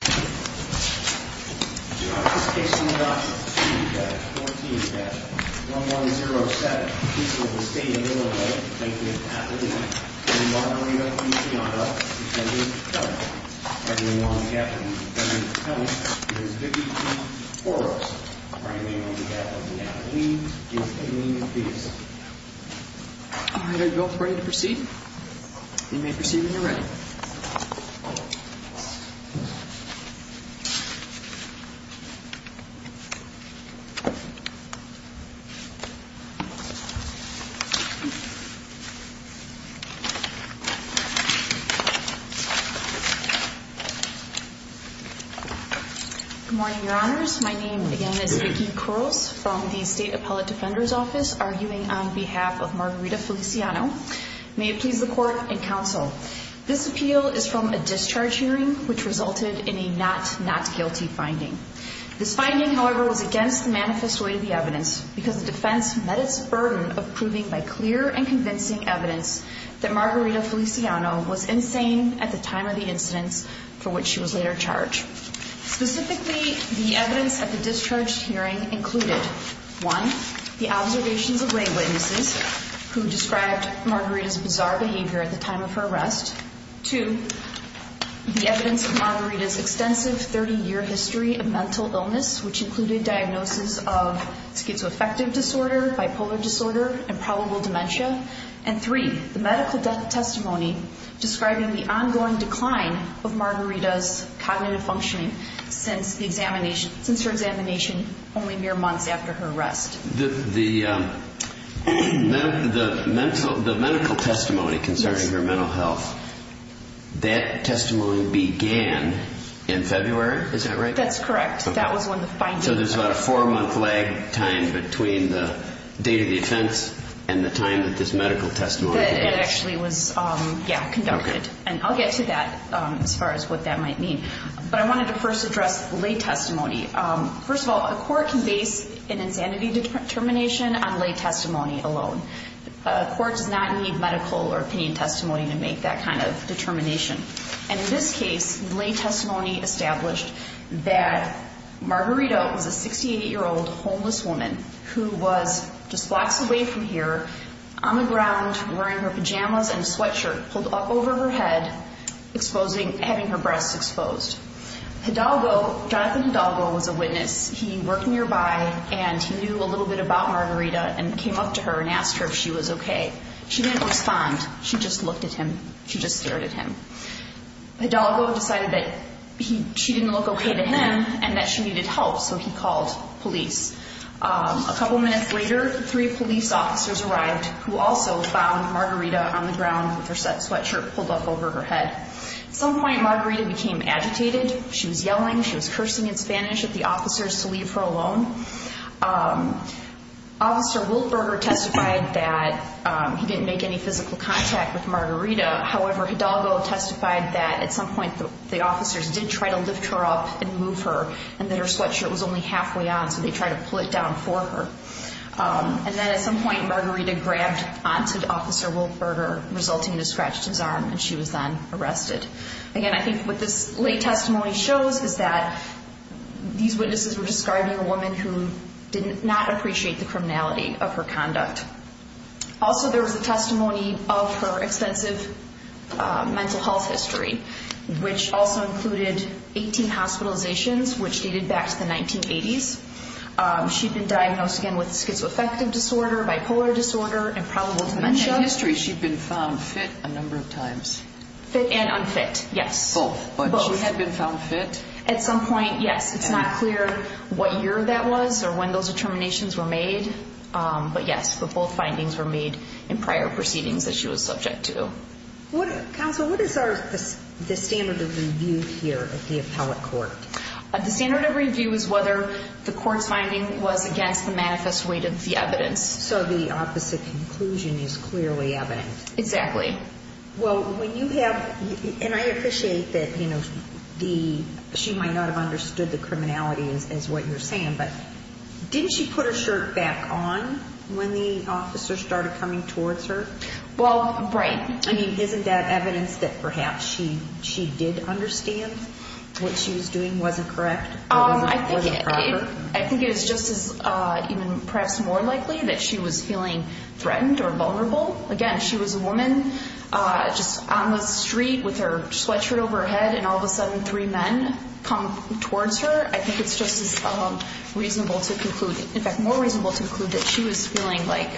14-1107, Peace Liberal Stadium, Illinois. Thank you for attending. I'm Margarito Feliciano. I'm going to be telling you a story. I'm going to be telling you a story. My name is Vivian Foros. My name on behalf of Nathalie is in the piece. Alright, are you both ready to proceed? You may proceed when you're ready. Good morning, Your Honors. My name again is Vicki Kuros from the State Appellate Defender's Office, arguing on behalf of Margarita Feliciano. May it please the Court and Counsel, this appeal is from a discharge hearing which resulted in a not not guilty finding. This finding, however, was against the manifest weight of the evidence because the defense met its burden of proving by clear and convincing evidence that Margarita Feliciano was insane at the time of the incidents for which she was later charged. Specifically, the evidence at the discharge hearing included, One, the observations of witnesses who described Margarita's bizarre behavior at the time of her arrest. Two, the evidence of Margarita's extensive 30-year history of mental illness, which included diagnosis of schizoaffective disorder, bipolar disorder, and probable dementia. And three, the medical testimony describing the ongoing decline of Margarita's cognitive functioning since her examination only mere months after her arrest. The medical testimony concerning her mental health, that testimony began in February, is that right? That's correct. That was one of the findings. So there's about a four-month lag time between the date of the offense and the time that this medical testimony began. That actually was, yeah, conducted. And I'll get to that as far as what that might mean. But I wanted to first address lay testimony. First of all, a court can base an insanity determination on lay testimony alone. A court does not need medical or opinion testimony to make that kind of determination. And in this case, lay testimony established that Margarita was a 68-year-old homeless woman who was just blocks away from here, on the ground, wearing her pajamas and sweatshirt, pulled up over her head, exposing, having her breasts exposed. Hidalgo, Jonathan Hidalgo, was a witness. He worked nearby and he knew a little bit about Margarita and came up to her and asked her if she was okay. She didn't respond. She just looked at him. She just stared at him. Hidalgo decided that she didn't look okay to him and that she needed help, so he called police. A couple of minutes later, three police officers arrived, who also found Margarita on the ground with her sweatshirt pulled up over her head. At some point, Margarita became agitated. She was yelling, she was cursing in Spanish at the officers to leave her alone. Officer Wiltberger testified that he didn't make any physical contact with Margarita. However, Hidalgo testified that at some point the officers did try to lift her up and move her and that her sweatshirt was only halfway on, so they tried to pull it down for her. At some point, Margarita grabbed onto Officer Wiltberger, resulting in a scratch to his arm, and she was then arrested. Again, I think what this lay testimony shows is that these witnesses were describing a woman who did not appreciate the criminality of her conduct. Also, there was a testimony of her extensive mental health history, which also included 18 hospitalizations, which dated back to the 1980s. She'd been diagnosed again with schizoaffective disorder, bipolar disorder, and probable dementia. In her history, she'd been found fit a number of times. Fit and unfit, yes. Both. But she had been found fit. At some point, yes. It's not clear what year that was or when those determinations were made, but yes, both findings were made in prior proceedings that she was subject to. Counsel, what is the standard of review here at the appellate court? The standard of review is whether the court's finding was against the manifest weight of the evidence. So the opposite conclusion is clearly evident. Exactly. Well, when you have, and I appreciate that she might not have understood the criminality as what you're saying, but didn't she put her shirt back on when the officer started coming towards her? Well, right. I mean, isn't that evidence that perhaps she did understand what she was doing wasn't correct? I think it is just as even perhaps more likely that she was feeling threatened or vulnerable. Again, she was a woman just on the street with her sweatshirt over her head, and all of a sudden three men come towards her. I think it's just as reasonable to conclude, in fact, more reasonable to conclude that she was feeling like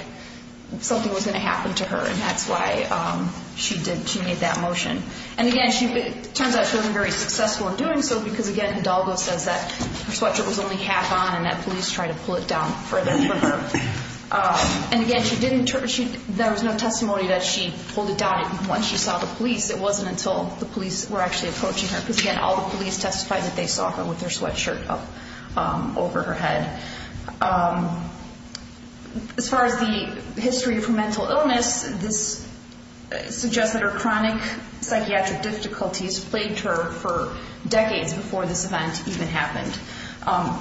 something was going to happen to her, and that's why she made that motion. And, again, it turns out she wasn't very successful in doing so, because, again, Hidalgo says that her sweatshirt was only half on and that police tried to pull it down further from her. And, again, there was no testimony that she pulled it down once she saw the police. It wasn't until the police were actually approaching her, because, again, all the police testified that they saw her with her sweatshirt up over her head. As far as the history of her mental illness, this suggests that her chronic psychiatric difficulties plagued her for decades before this event even happened.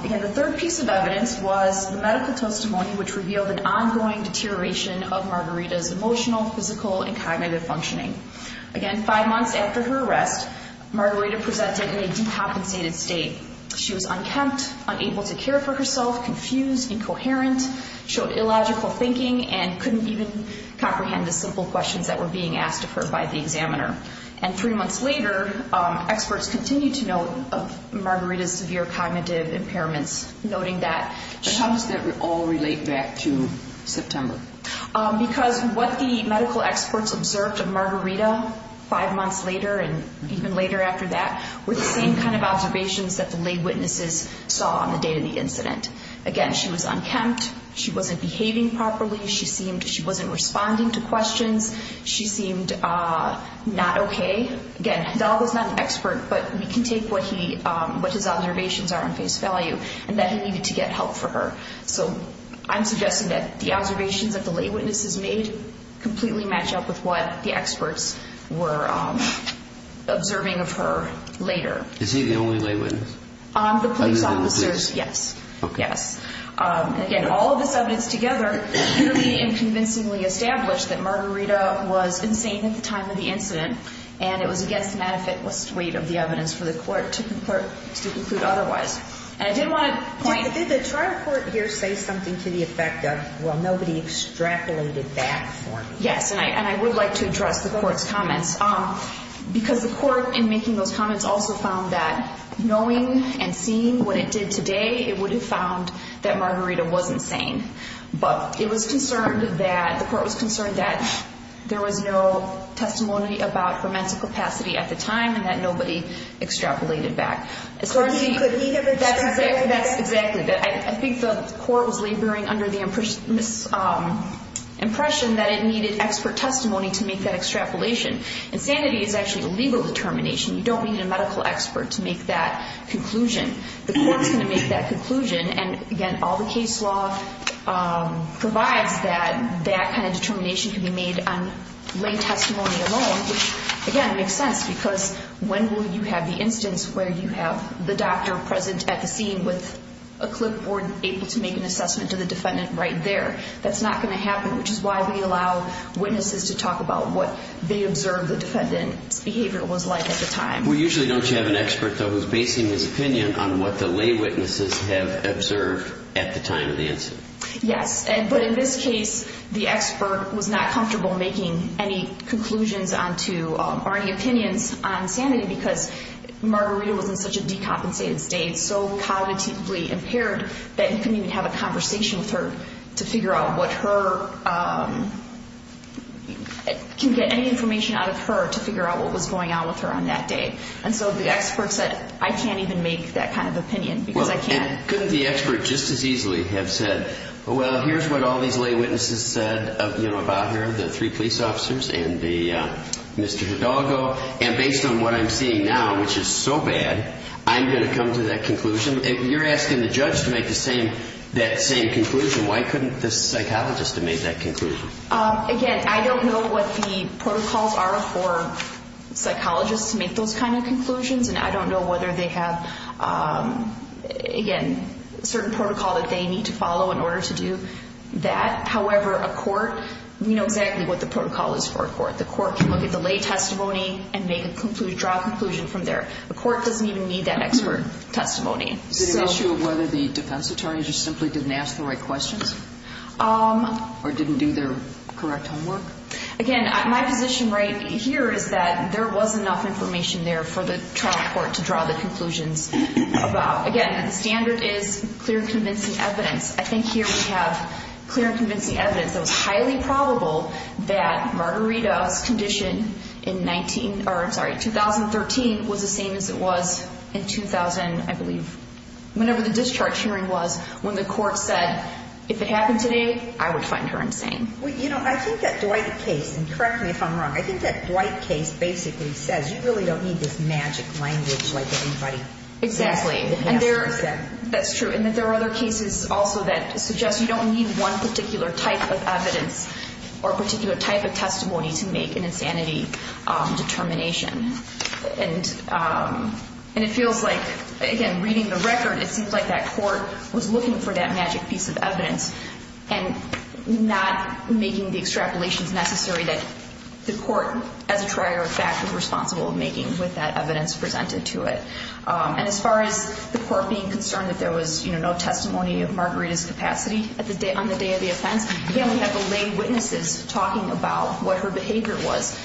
Again, the third piece of evidence was the medical testimony, which revealed an ongoing deterioration of Margarita's emotional, physical, and cognitive functioning. Again, five months after her arrest, Margarita presented in a decompensated state. She was unkempt, unable to care for herself, confused, incoherent, showed illogical thinking, and couldn't even comprehend the simple questions that were being asked of her by the examiner. And three months later, experts continued to note Margarita's severe cognitive impairments, noting that she… But how does that all relate back to September? Because what the medical experts observed of Margarita five months later, and even later after that, were the same kind of observations that the lay witnesses saw on the day of the incident. Again, she was unkempt, she wasn't behaving properly, she seemed… she wasn't responding to questions, she seemed not okay. Again, Donald was not an expert, but we can take what he… what his observations are on face value, and that he needed to get help for her. So I'm suggesting that the observations that the lay witnesses made completely match up with what the experts were observing of her later. Is he the only lay witness? On the police officers, yes. Okay. Yes. Again, all of this evidence together clearly and convincingly established that Margarita was insane at the time of the incident, and it was against the manifest weight of the evidence for the court to conclude otherwise. And I did want to point… Did the trial court here say something to the effect of, well, nobody extrapolated that for me? Yes, and I would like to address the court's comments, because the court in making those comments also found that knowing and seeing what it did today, it would have found that Margarita was insane. But it was concerned that… the court was concerned that there was no testimony about her mental capacity at the time, and that nobody extrapolated that. That's exactly it. I think the court was laboring under the impression that it needed expert testimony to make that extrapolation. Insanity is actually a legal determination. You don't need a medical expert to make that conclusion. The court is going to make that conclusion, and, again, all the case law provides that that kind of determination can be made on lay testimony alone, which, again, makes sense, because when will you have the instance where you have the doctor present at the scene with a clipboard able to make an assessment to the defendant right there? That's not going to happen, which is why we allow witnesses to talk about what they observed the defendant's behavior was like at the time. We usually don't have an expert, though, who's basing his opinion on what the lay witnesses have observed at the time of the incident. Yes, but in this case, the expert was not comfortable making any conclusions on to or any opinions on sanity because Margarita was in such a decompensated state, so cognitively impaired, that he couldn't even have a conversation with her to figure out what her can get any information out of her to figure out what was going on with her on that day. And so the expert said, I can't even make that kind of opinion because I can't. Couldn't the expert just as easily have said, well, here's what all these lay witnesses said about her, the three police officers and Mr. Hidalgo, and based on what I'm seeing now, which is so bad, I'm going to come to that conclusion. If you're asking the judge to make that same conclusion, why couldn't the psychologist have made that conclusion? Again, I don't know what the protocols are for psychologists to make those kind of conclusions, and I don't know whether they have, again, certain protocol that they need to follow in order to do that. However, a court, we know exactly what the protocol is for a court. The court can look at the lay testimony and make a conclusion, draw a conclusion from there. The court doesn't even need that expert testimony. Is it an issue of whether the defense attorney just simply didn't ask the right questions or didn't do their correct homework? Again, my position right here is that there was enough information there for the trial court to draw the conclusions about. Again, the standard is clear and convincing evidence. I think here we have clear and convincing evidence that was highly probable that Margarita's condition in 19, or I'm sorry, 2013 was the same as it was in 2000, I believe, whenever the discharge hearing was, when the court said, if it happened today, I would find her insane. Well, you know, I think that Dwight case, and correct me if I'm wrong, I think that Dwight case basically says you really don't need this magic language like anybody. Exactly. That's true. And that there are other cases also that suggest you don't need one particular type of evidence or particular type of testimony to make an insanity determination. And it feels like, again, reading the record, it seems like that court was looking for that magic piece of evidence and not making the extrapolations necessary that the court, as a trier of fact, was responsible of making with that evidence presented to it. And as far as the court being concerned that there was no testimony of Margarita's capacity on the day of the offense, again, we have the lay witnesses talking about what her behavior was.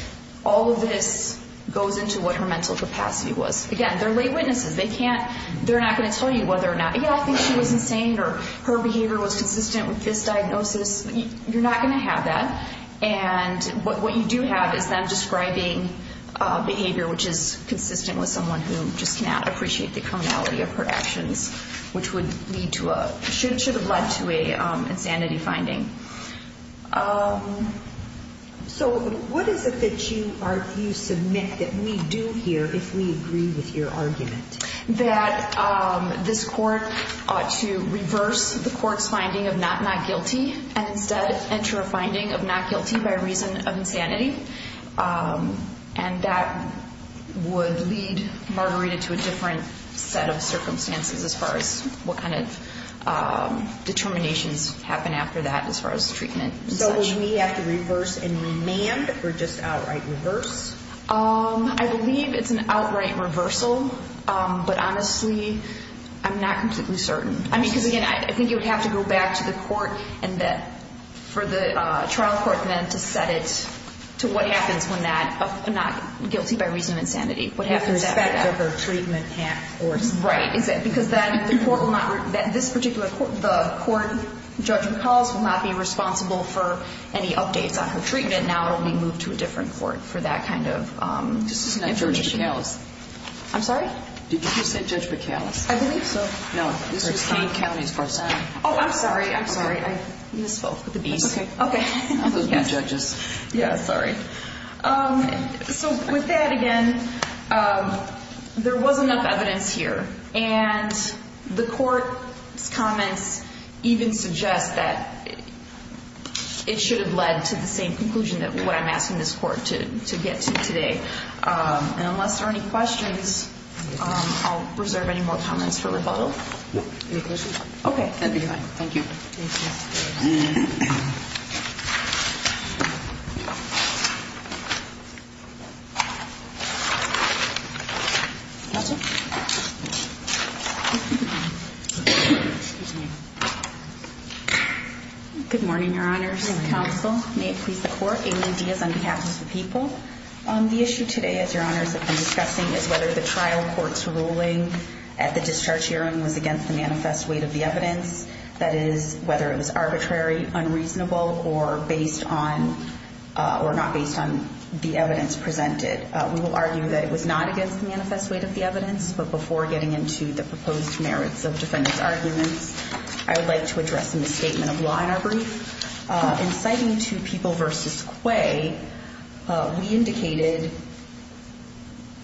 All of this goes into what her mental capacity was. Again, they're lay witnesses. They're not going to tell you whether or not, yeah, I think she was insane or her behavior was consistent with this diagnosis. You're not going to have that. And what you do have is them describing behavior which is consistent with someone who just cannot appreciate the cronality of her actions, which should have led to an insanity finding. So what is it that you submit that we do here if we agree with your argument? That this court ought to reverse the court's finding of not guilty and instead enter a finding of not guilty by reason of insanity. And that would lead Margarita to a different set of circumstances as far as what kind of determinations happen after that as far as treatment and such. So will we have to reverse and remand or just outright reverse? I believe it's an outright reversal. But honestly, I'm not completely certain. I mean, because, again, I think you would have to go back to the court for the trial court then to set it to what happens when not guilty by reason of insanity. What happens after that. With respect to her treatment course. Right. Because then the court will not, this particular court, the court judge recalls will not be responsible for any updates on her treatment. But now it will be moved to a different court for that kind of information. This is not Judge McAllis. I'm sorry? Did you just say Judge McAllis? I believe so. No, this was Kane County's court. Oh, I'm sorry. I'm sorry. I misspoke with the Bs. That's okay. Okay. Those are good judges. Yeah, sorry. So with that, again, there was enough evidence here. And the court's comments even suggest that it should have led to the same conclusion that what I'm asking this court to get to today. And unless there are any questions, I'll reserve any more comments for rebuttal. Any questions? Okay. That'd be fine. Thank you. Thank you. Good morning, Your Honors. Good morning. Counsel, may it please the Court. Amy Diaz on behalf of the people. The issue today, as Your Honors have been discussing, is whether the trial court's ruling at the discharge hearing was against the manifest weight of the evidence. That is, whether it was arbitrary, unreasonable, or not based on the evidence presented. We will argue that it was not against the manifest weight of the evidence. But before getting into the proposed merits of defendant's arguments, I would like to address a misstatement of law in our brief. In citing two people versus Quay, we indicated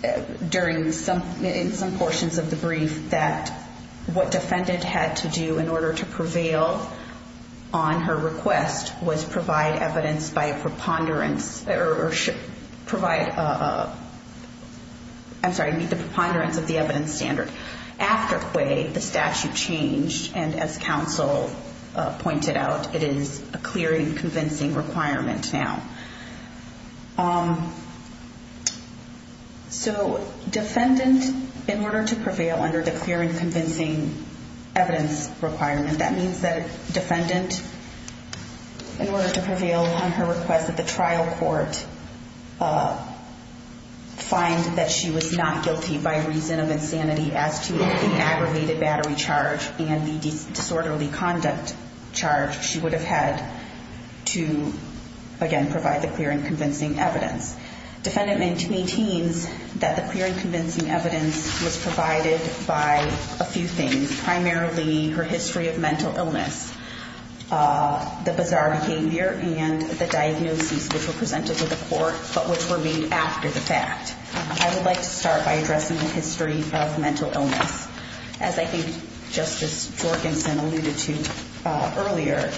in some portions of the brief that what defendant had to do in order to prevail on her request was provide evidence by a preponderance or provide, I'm sorry, meet the preponderance of the evidence standard. After Quay, the statute changed, and as counsel pointed out, it is a clear and convincing requirement now. So defendant, in order to prevail under the clear and convincing evidence requirement, that means that defendant, in order to prevail on her request at the trial court, would find that she was not guilty by reason of insanity as to the aggravated battery charge and the disorderly conduct charge she would have had to, again, provide the clear and convincing evidence. Defendant maintains that the clear and convincing evidence was provided by a few things, primarily her history of mental illness, the bizarre behavior, and the diagnoses which were presented to the court but which were made after the fact. I would like to start by addressing the history of mental illness. As I think Justice Jorgensen alluded to earlier,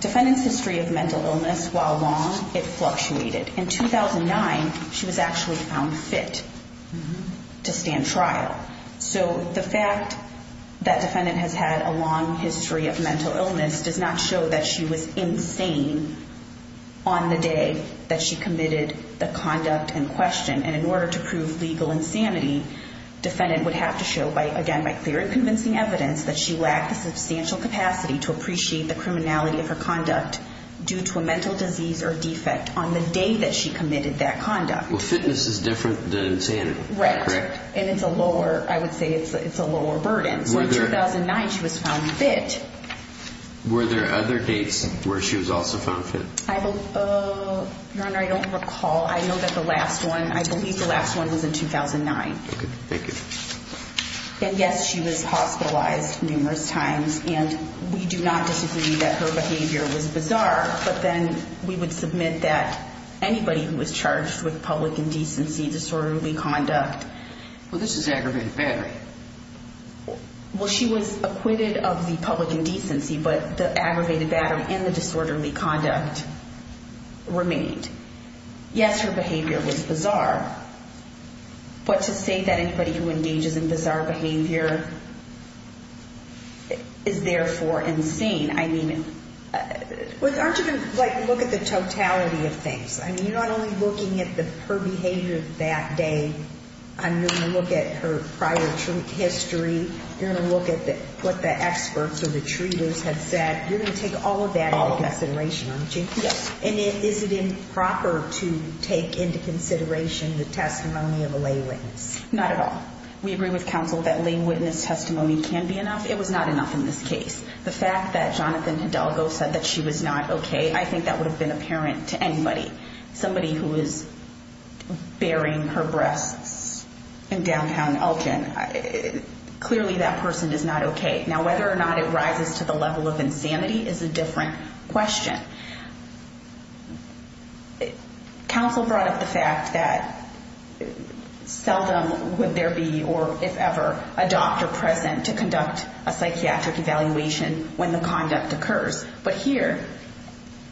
defendant's history of mental illness, while long, it fluctuated. In 2009, she was actually found fit to stand trial. So the fact that defendant has had a long history of mental illness does not show that she was insane on the day that she committed the conduct in question. And in order to prove legal insanity, defendant would have to show, again, by clear and convincing evidence, that she lacked the substantial capacity to appreciate the criminality of her conduct due to a mental disease or defect on the day that she committed that conduct. Well, fitness is different than insanity, correct? And it's a lower, I would say it's a lower burden. So in 2009, she was found fit. Were there other dates where she was also found fit? Your Honor, I don't recall. I know that the last one, I believe the last one was in 2009. Okay, thank you. And yes, she was hospitalized numerous times, and we do not disagree that her behavior was bizarre, but then we would submit that anybody who was charged with public indecency, disorderly conduct... Well, this is aggravated battery. Well, she was acquitted of the public indecency, but the aggravated battery and the disorderly conduct remained. Yes, her behavior was bizarre, but to say that anybody who engages in bizarre behavior is therefore insane, I mean... Well, aren't you going to, like, look at the totality of things? I mean, you're not only looking at her behavior that day. You're going to look at her prior history. You're going to look at what the experts or the treaters have said. You're going to take all of that into consideration, aren't you? Yes. And is it improper to take into consideration the testimony of a lay witness? Not at all. We agree with counsel that lay witness testimony can be enough. It was not enough in this case. The fact that Jonathan Hidalgo said that she was not okay, I think that would have been apparent to anybody. Somebody who is burying her breasts in downtown Elgin, clearly that person is not okay. Now, whether or not it rises to the level of insanity is a different question. Counsel brought up the fact that seldom would there be, or if ever, a doctor present to conduct a psychiatric evaluation when the conduct occurs. But here,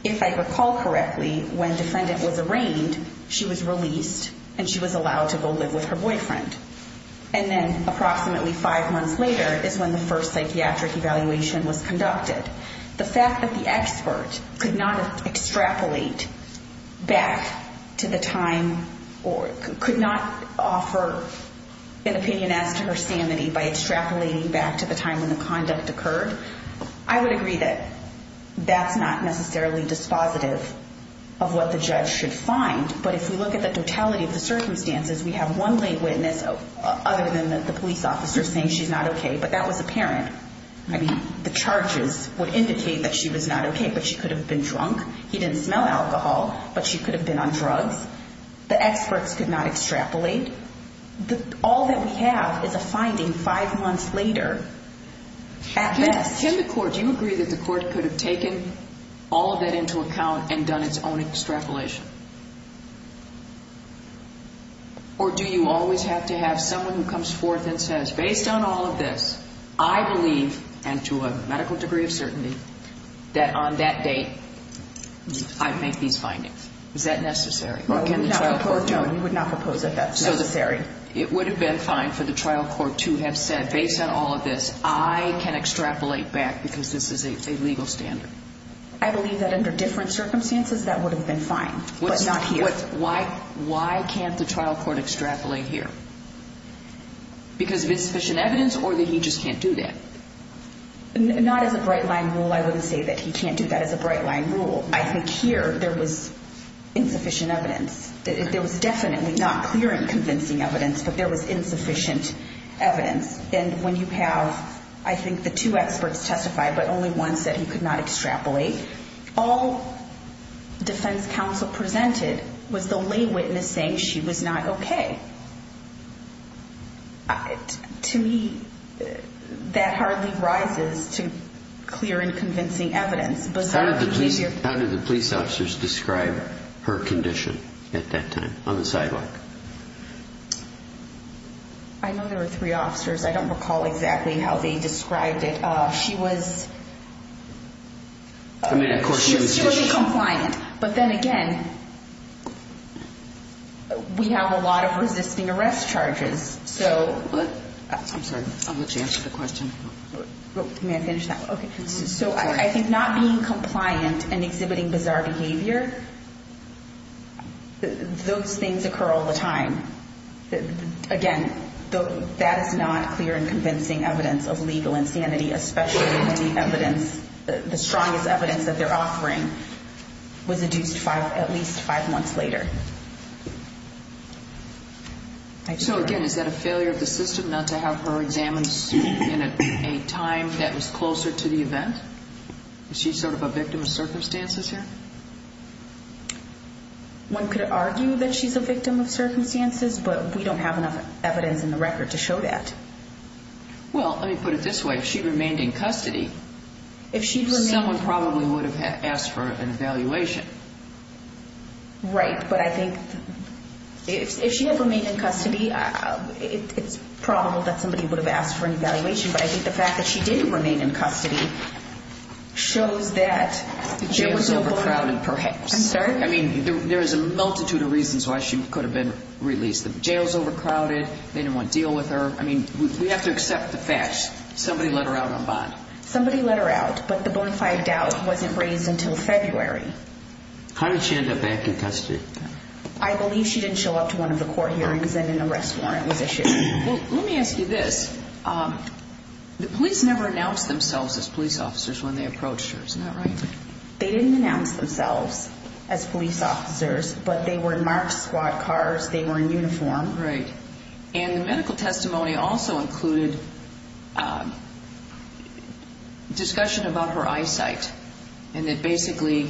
if I recall correctly, when defendant was arraigned, she was released and she was allowed to go live with her boyfriend. And then approximately five months later is when the first psychiatric evaluation was conducted. The fact that the expert could not extrapolate back to the time or could not offer an opinion as to her sanity by extrapolating back to the time when the conduct occurred, I would agree that that's not necessarily dispositive of what the judge should find. But if we look at the totality of the circumstances, we have one lay witness, other than the police officer, saying she's not okay. But that was apparent. I mean, the charges would indicate that she was not okay, but she could have been drunk. He didn't smell alcohol, but she could have been on drugs. The experts could not extrapolate. All that we have is a finding five months later at best. Can the court, do you agree that the court could have taken all of that into account and done its own extrapolation? Or do you always have to have someone who comes forth and says, based on all of this, I believe, and to a medical degree of certainty, that on that date, I make these findings? Is that necessary? No, we would not propose that that's necessary. It would have been fine for the trial court to have said, based on all of this, I can extrapolate back because this is a legal standard. I believe that under different circumstances, that would have been fine. Why can't the trial court extrapolate here? Because of insufficient evidence, or that he just can't do that? Not as a bright line rule. I wouldn't say that he can't do that as a bright line rule. I think here, there was insufficient evidence. There was definitely not clear and convincing evidence, but there was insufficient evidence. And when you have, I think, the two experts testify, but only one said he could not extrapolate. All defense counsel presented was the lay witness saying she was not okay. To me, that hardly rises to clear and convincing evidence. How did the police officers describe her condition at that time on the sidewalk? I know there were three officers. I don't recall exactly how they described it. She was severely compliant. But then again, we have a lot of resisting arrest charges. I'm sorry. I'll let you answer the question. May I finish that? Okay. So I think not being compliant and exhibiting bizarre behavior, those things occur all the time. Again, that is not clear and convincing evidence of legal insanity, especially when the evidence, the strongest evidence that they're offering, was adduced at least five months later. So again, is that a failure of the system not to have her examined in a time that was closer to the event? Is she sort of a victim of circumstances here? One could argue that she's a victim of circumstances, but we don't have enough evidence in the record to show that. Well, let me put it this way. If she remained in custody, someone probably would have asked for an evaluation. Right. But I think if she had remained in custody, it's probable that somebody would have asked for an evaluation. But I think the fact that she did remain in custody shows that the jail was overcrowded, perhaps. I'm sorry? I mean, there is a multitude of reasons why she could have been released. The jail is overcrowded. They didn't want to deal with her. I mean, we have to accept the facts. Somebody let her out on bond. Somebody let her out, but the bonafide doubt wasn't raised until February. How did she end up back in custody? I believe she didn't show up to one of the court hearings and an arrest warrant was issued. Well, let me ask you this. The police never announced themselves as police officers when they approached her. Isn't that right? They didn't announce themselves as police officers, but they were in marked squad cars. They were in uniform. Right. And the medical testimony also included discussion about her eyesight and that basically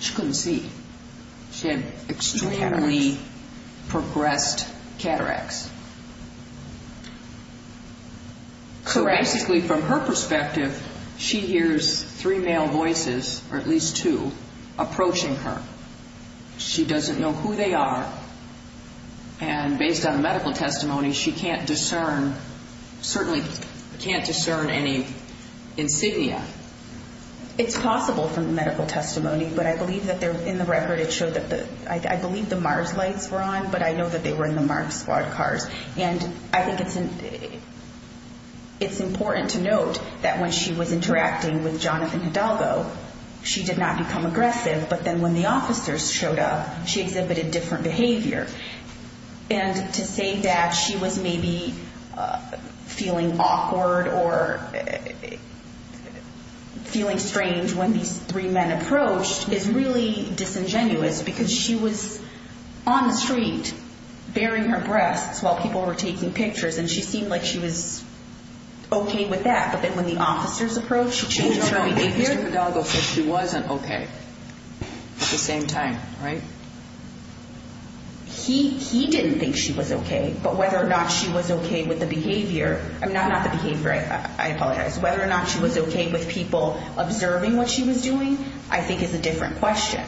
she couldn't see. She had extremely progressed cataracts. Correct. So basically from her perspective, she hears three male voices, or at least two, approaching her. She doesn't know who they are, and based on the medical testimony, she can't discern, certainly can't discern any insignia. It's possible from the medical testimony, but I believe that they're in the record. I believe the MARS lights were on, but I know that they were in the marked squad cars. And I think it's important to note that when she was interacting with Jonathan Hidalgo, she did not become aggressive. But then when the officers showed up, she exhibited different behavior. And to say that she was maybe feeling awkward or feeling strange when these three men approached is really disingenuous, because she was on the street, baring her breasts while people were taking pictures, and she seemed like she was okay with that. But then when the officers approached, she changed her behavior. Jonathan Hidalgo said she wasn't okay at the same time, right? He didn't think she was okay, but whether or not she was okay with the behavior, not the behavior, I apologize, whether or not she was okay with people observing what she was doing, I think is a different question.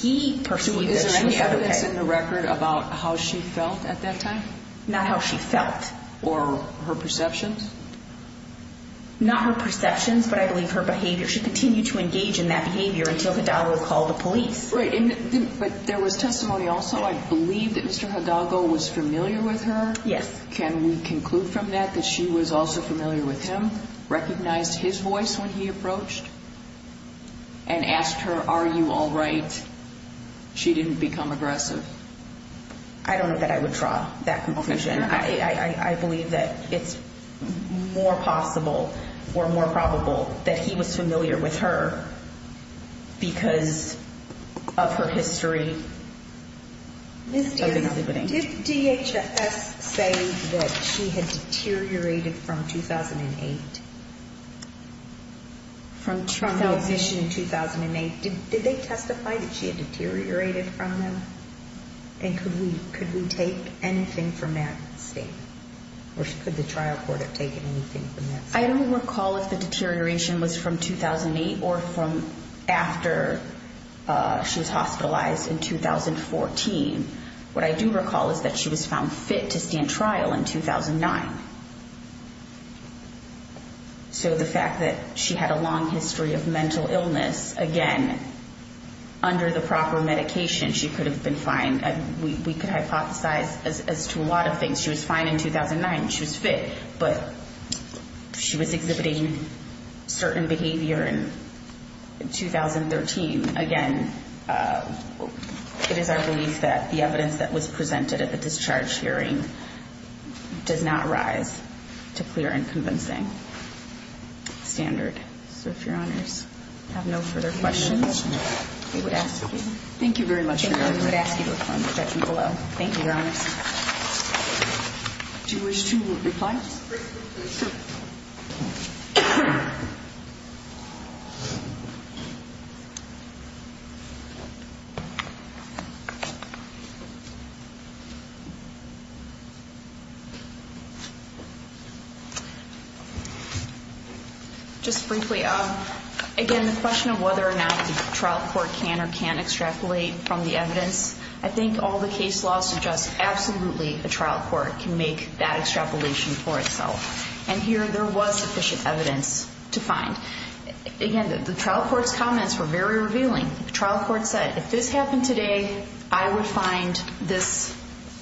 He perceived that she was okay. So is there evidence in the record about how she felt at that time? Not how she felt. Or her perceptions? Not her perceptions, but I believe her behavior. She continued to engage in that behavior until Hidalgo called the police. But there was testimony also, I believe that Mr. Hidalgo was familiar with her. Yes. Can we conclude from that that she was also familiar with him, recognized his voice when he approached, and asked her, are you all right, she didn't become aggressive? I don't know that I would draw that conclusion. I believe that it's more possible or more probable that he was familiar with her because of her history of exhibiting. Did DHS say that she had deteriorated from 2008, from the admission in 2008? Did they testify that she had deteriorated from him? And could we take anything from that statement? Or could the trial court have taken anything from that statement? I don't recall if the deterioration was from 2008 or from after she was hospitalized in 2014. What I do recall is that she was found fit to stand trial in 2009. So the fact that she had a long history of mental illness, again, under the proper medication, she could have been fine, we could hypothesize as to a lot of things. She was fine in 2009. She was fit. But she was exhibiting certain behavior in 2013. Again, it is our belief that the evidence that was presented at the discharge hearing does not rise to clear and convincing standard. So if Your Honors have no further questions, we would ask you. Thank you very much, Your Honors. Thank you. We would ask you to reply in the judgment below. Thank you, Your Honors. Briefly, please. Sure. I think all the case law suggests absolutely a trial court can make that extrapolation for itself. And here there was sufficient evidence to find. Again, the trial court's comments were very revealing. The trial court said, if this happened today, I would find this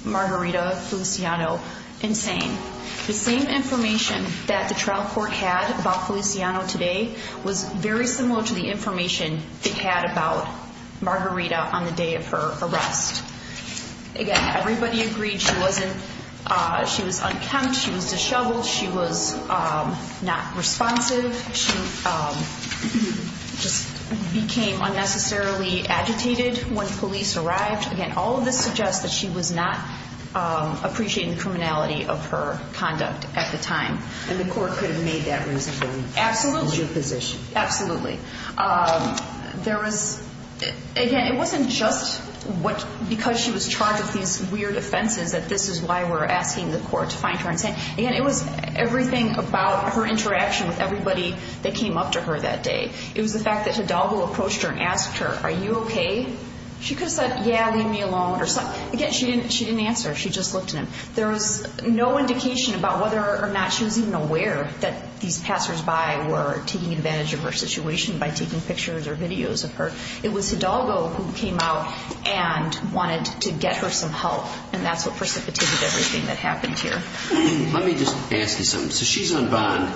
Margarita Feliciano insane. The same information that the trial court had about Feliciano today was very similar to the information they had about Margarita on the day of her arrest. Again, everybody agreed she was unkempt, she was disheveled, she was not responsive. She just became unnecessarily agitated when police arrived. Again, all of this suggests that she was not appreciating the criminality of her conduct at the time. And the court could have made that reasonable. Absolutely. In your position. Absolutely. There was, again, it wasn't just because she was charged with these weird offenses that this is why we're asking the court to find her insane. Again, it was everything about her interaction with everybody that came up to her that day. It was the fact that Hidalgo approached her and asked her, are you okay? She could have said, yeah, leave me alone. Again, she didn't answer. She just looked at him. There was no indication about whether or not she was even aware that these passersby were taking advantage of her situation by taking pictures or videos of her. It was Hidalgo who came out and wanted to get her some help, and that's what precipitated everything that happened here. Let me just ask you something. So she's on bond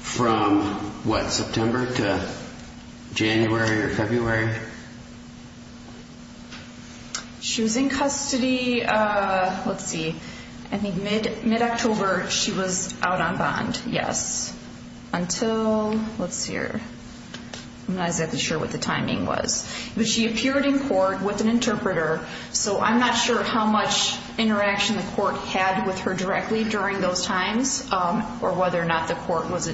from, what, September to January or February? She was in custody, let's see, I think mid-October she was out on bond, yes. Until, let's see here, I'm not exactly sure what the timing was. But she appeared in court with an interpreter, so I'm not sure how much interaction the court had with her directly during those times or whether or not the court was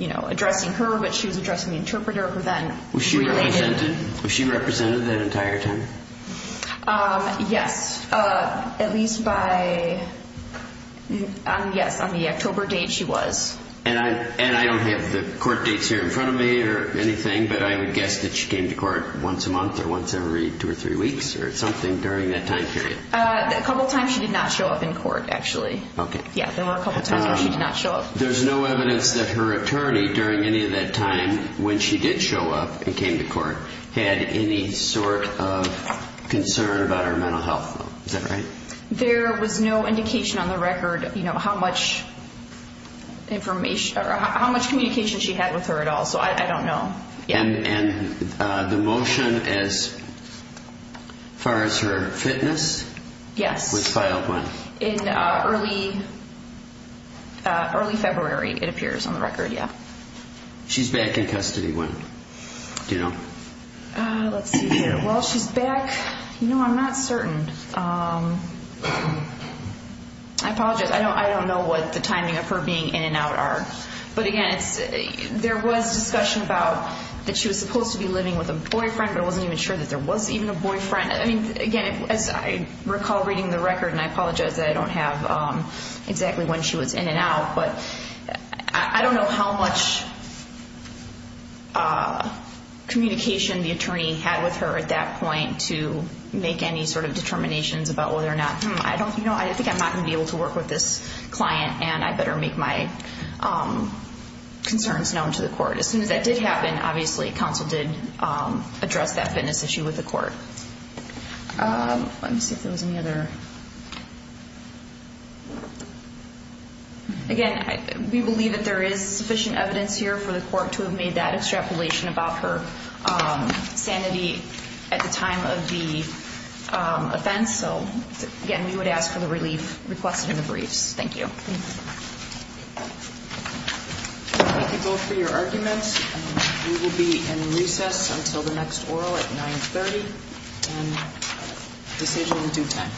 addressing her, but she was addressing the interpreter who then related. Was she represented that entire time? Yes, at least by, yes, on the October date she was. And I don't have the court dates here in front of me or anything, but I would guess that she came to court once a month or once every two or three weeks or something during that time period. A couple times she did not show up in court, actually. Okay. Yeah, there were a couple times where she did not show up. There's no evidence that her attorney during any of that time when she did show up and came to court had any sort of concern about her mental health, though. Is that right? There was no indication on the record how much communication she had with her at all, so I don't know. And the motion as far as her fitness? Yes. Which file? In early February, it appears on the record, yeah. She's back in custody when? Do you know? Let's see here. Well, she's back. No, I'm not certain. I apologize. I don't know what the timing of her being in and out are. But, again, there was discussion about that she was supposed to be living with a boyfriend, but I wasn't even sure that there was even a boyfriend. I mean, again, as I recall reading the record, and I apologize that I don't have exactly when she was in and out, but I don't know how much communication the attorney had with her at that point to make any sort of determinations about whether or not, hmm, I think I'm not going to be able to work with this client and I better make my concerns known to the court. As soon as that did happen, obviously, counsel did address that fitness issue with the court. Let me see if there was any other. Again, we believe that there is sufficient evidence here for the court to have made that extrapolation about her sanity at the time of the offense. So, again, we would ask for the relief requested in the briefs. Thank you. Thank you both for your arguments. We will be in recess until the next oral at 930, and this is in due time.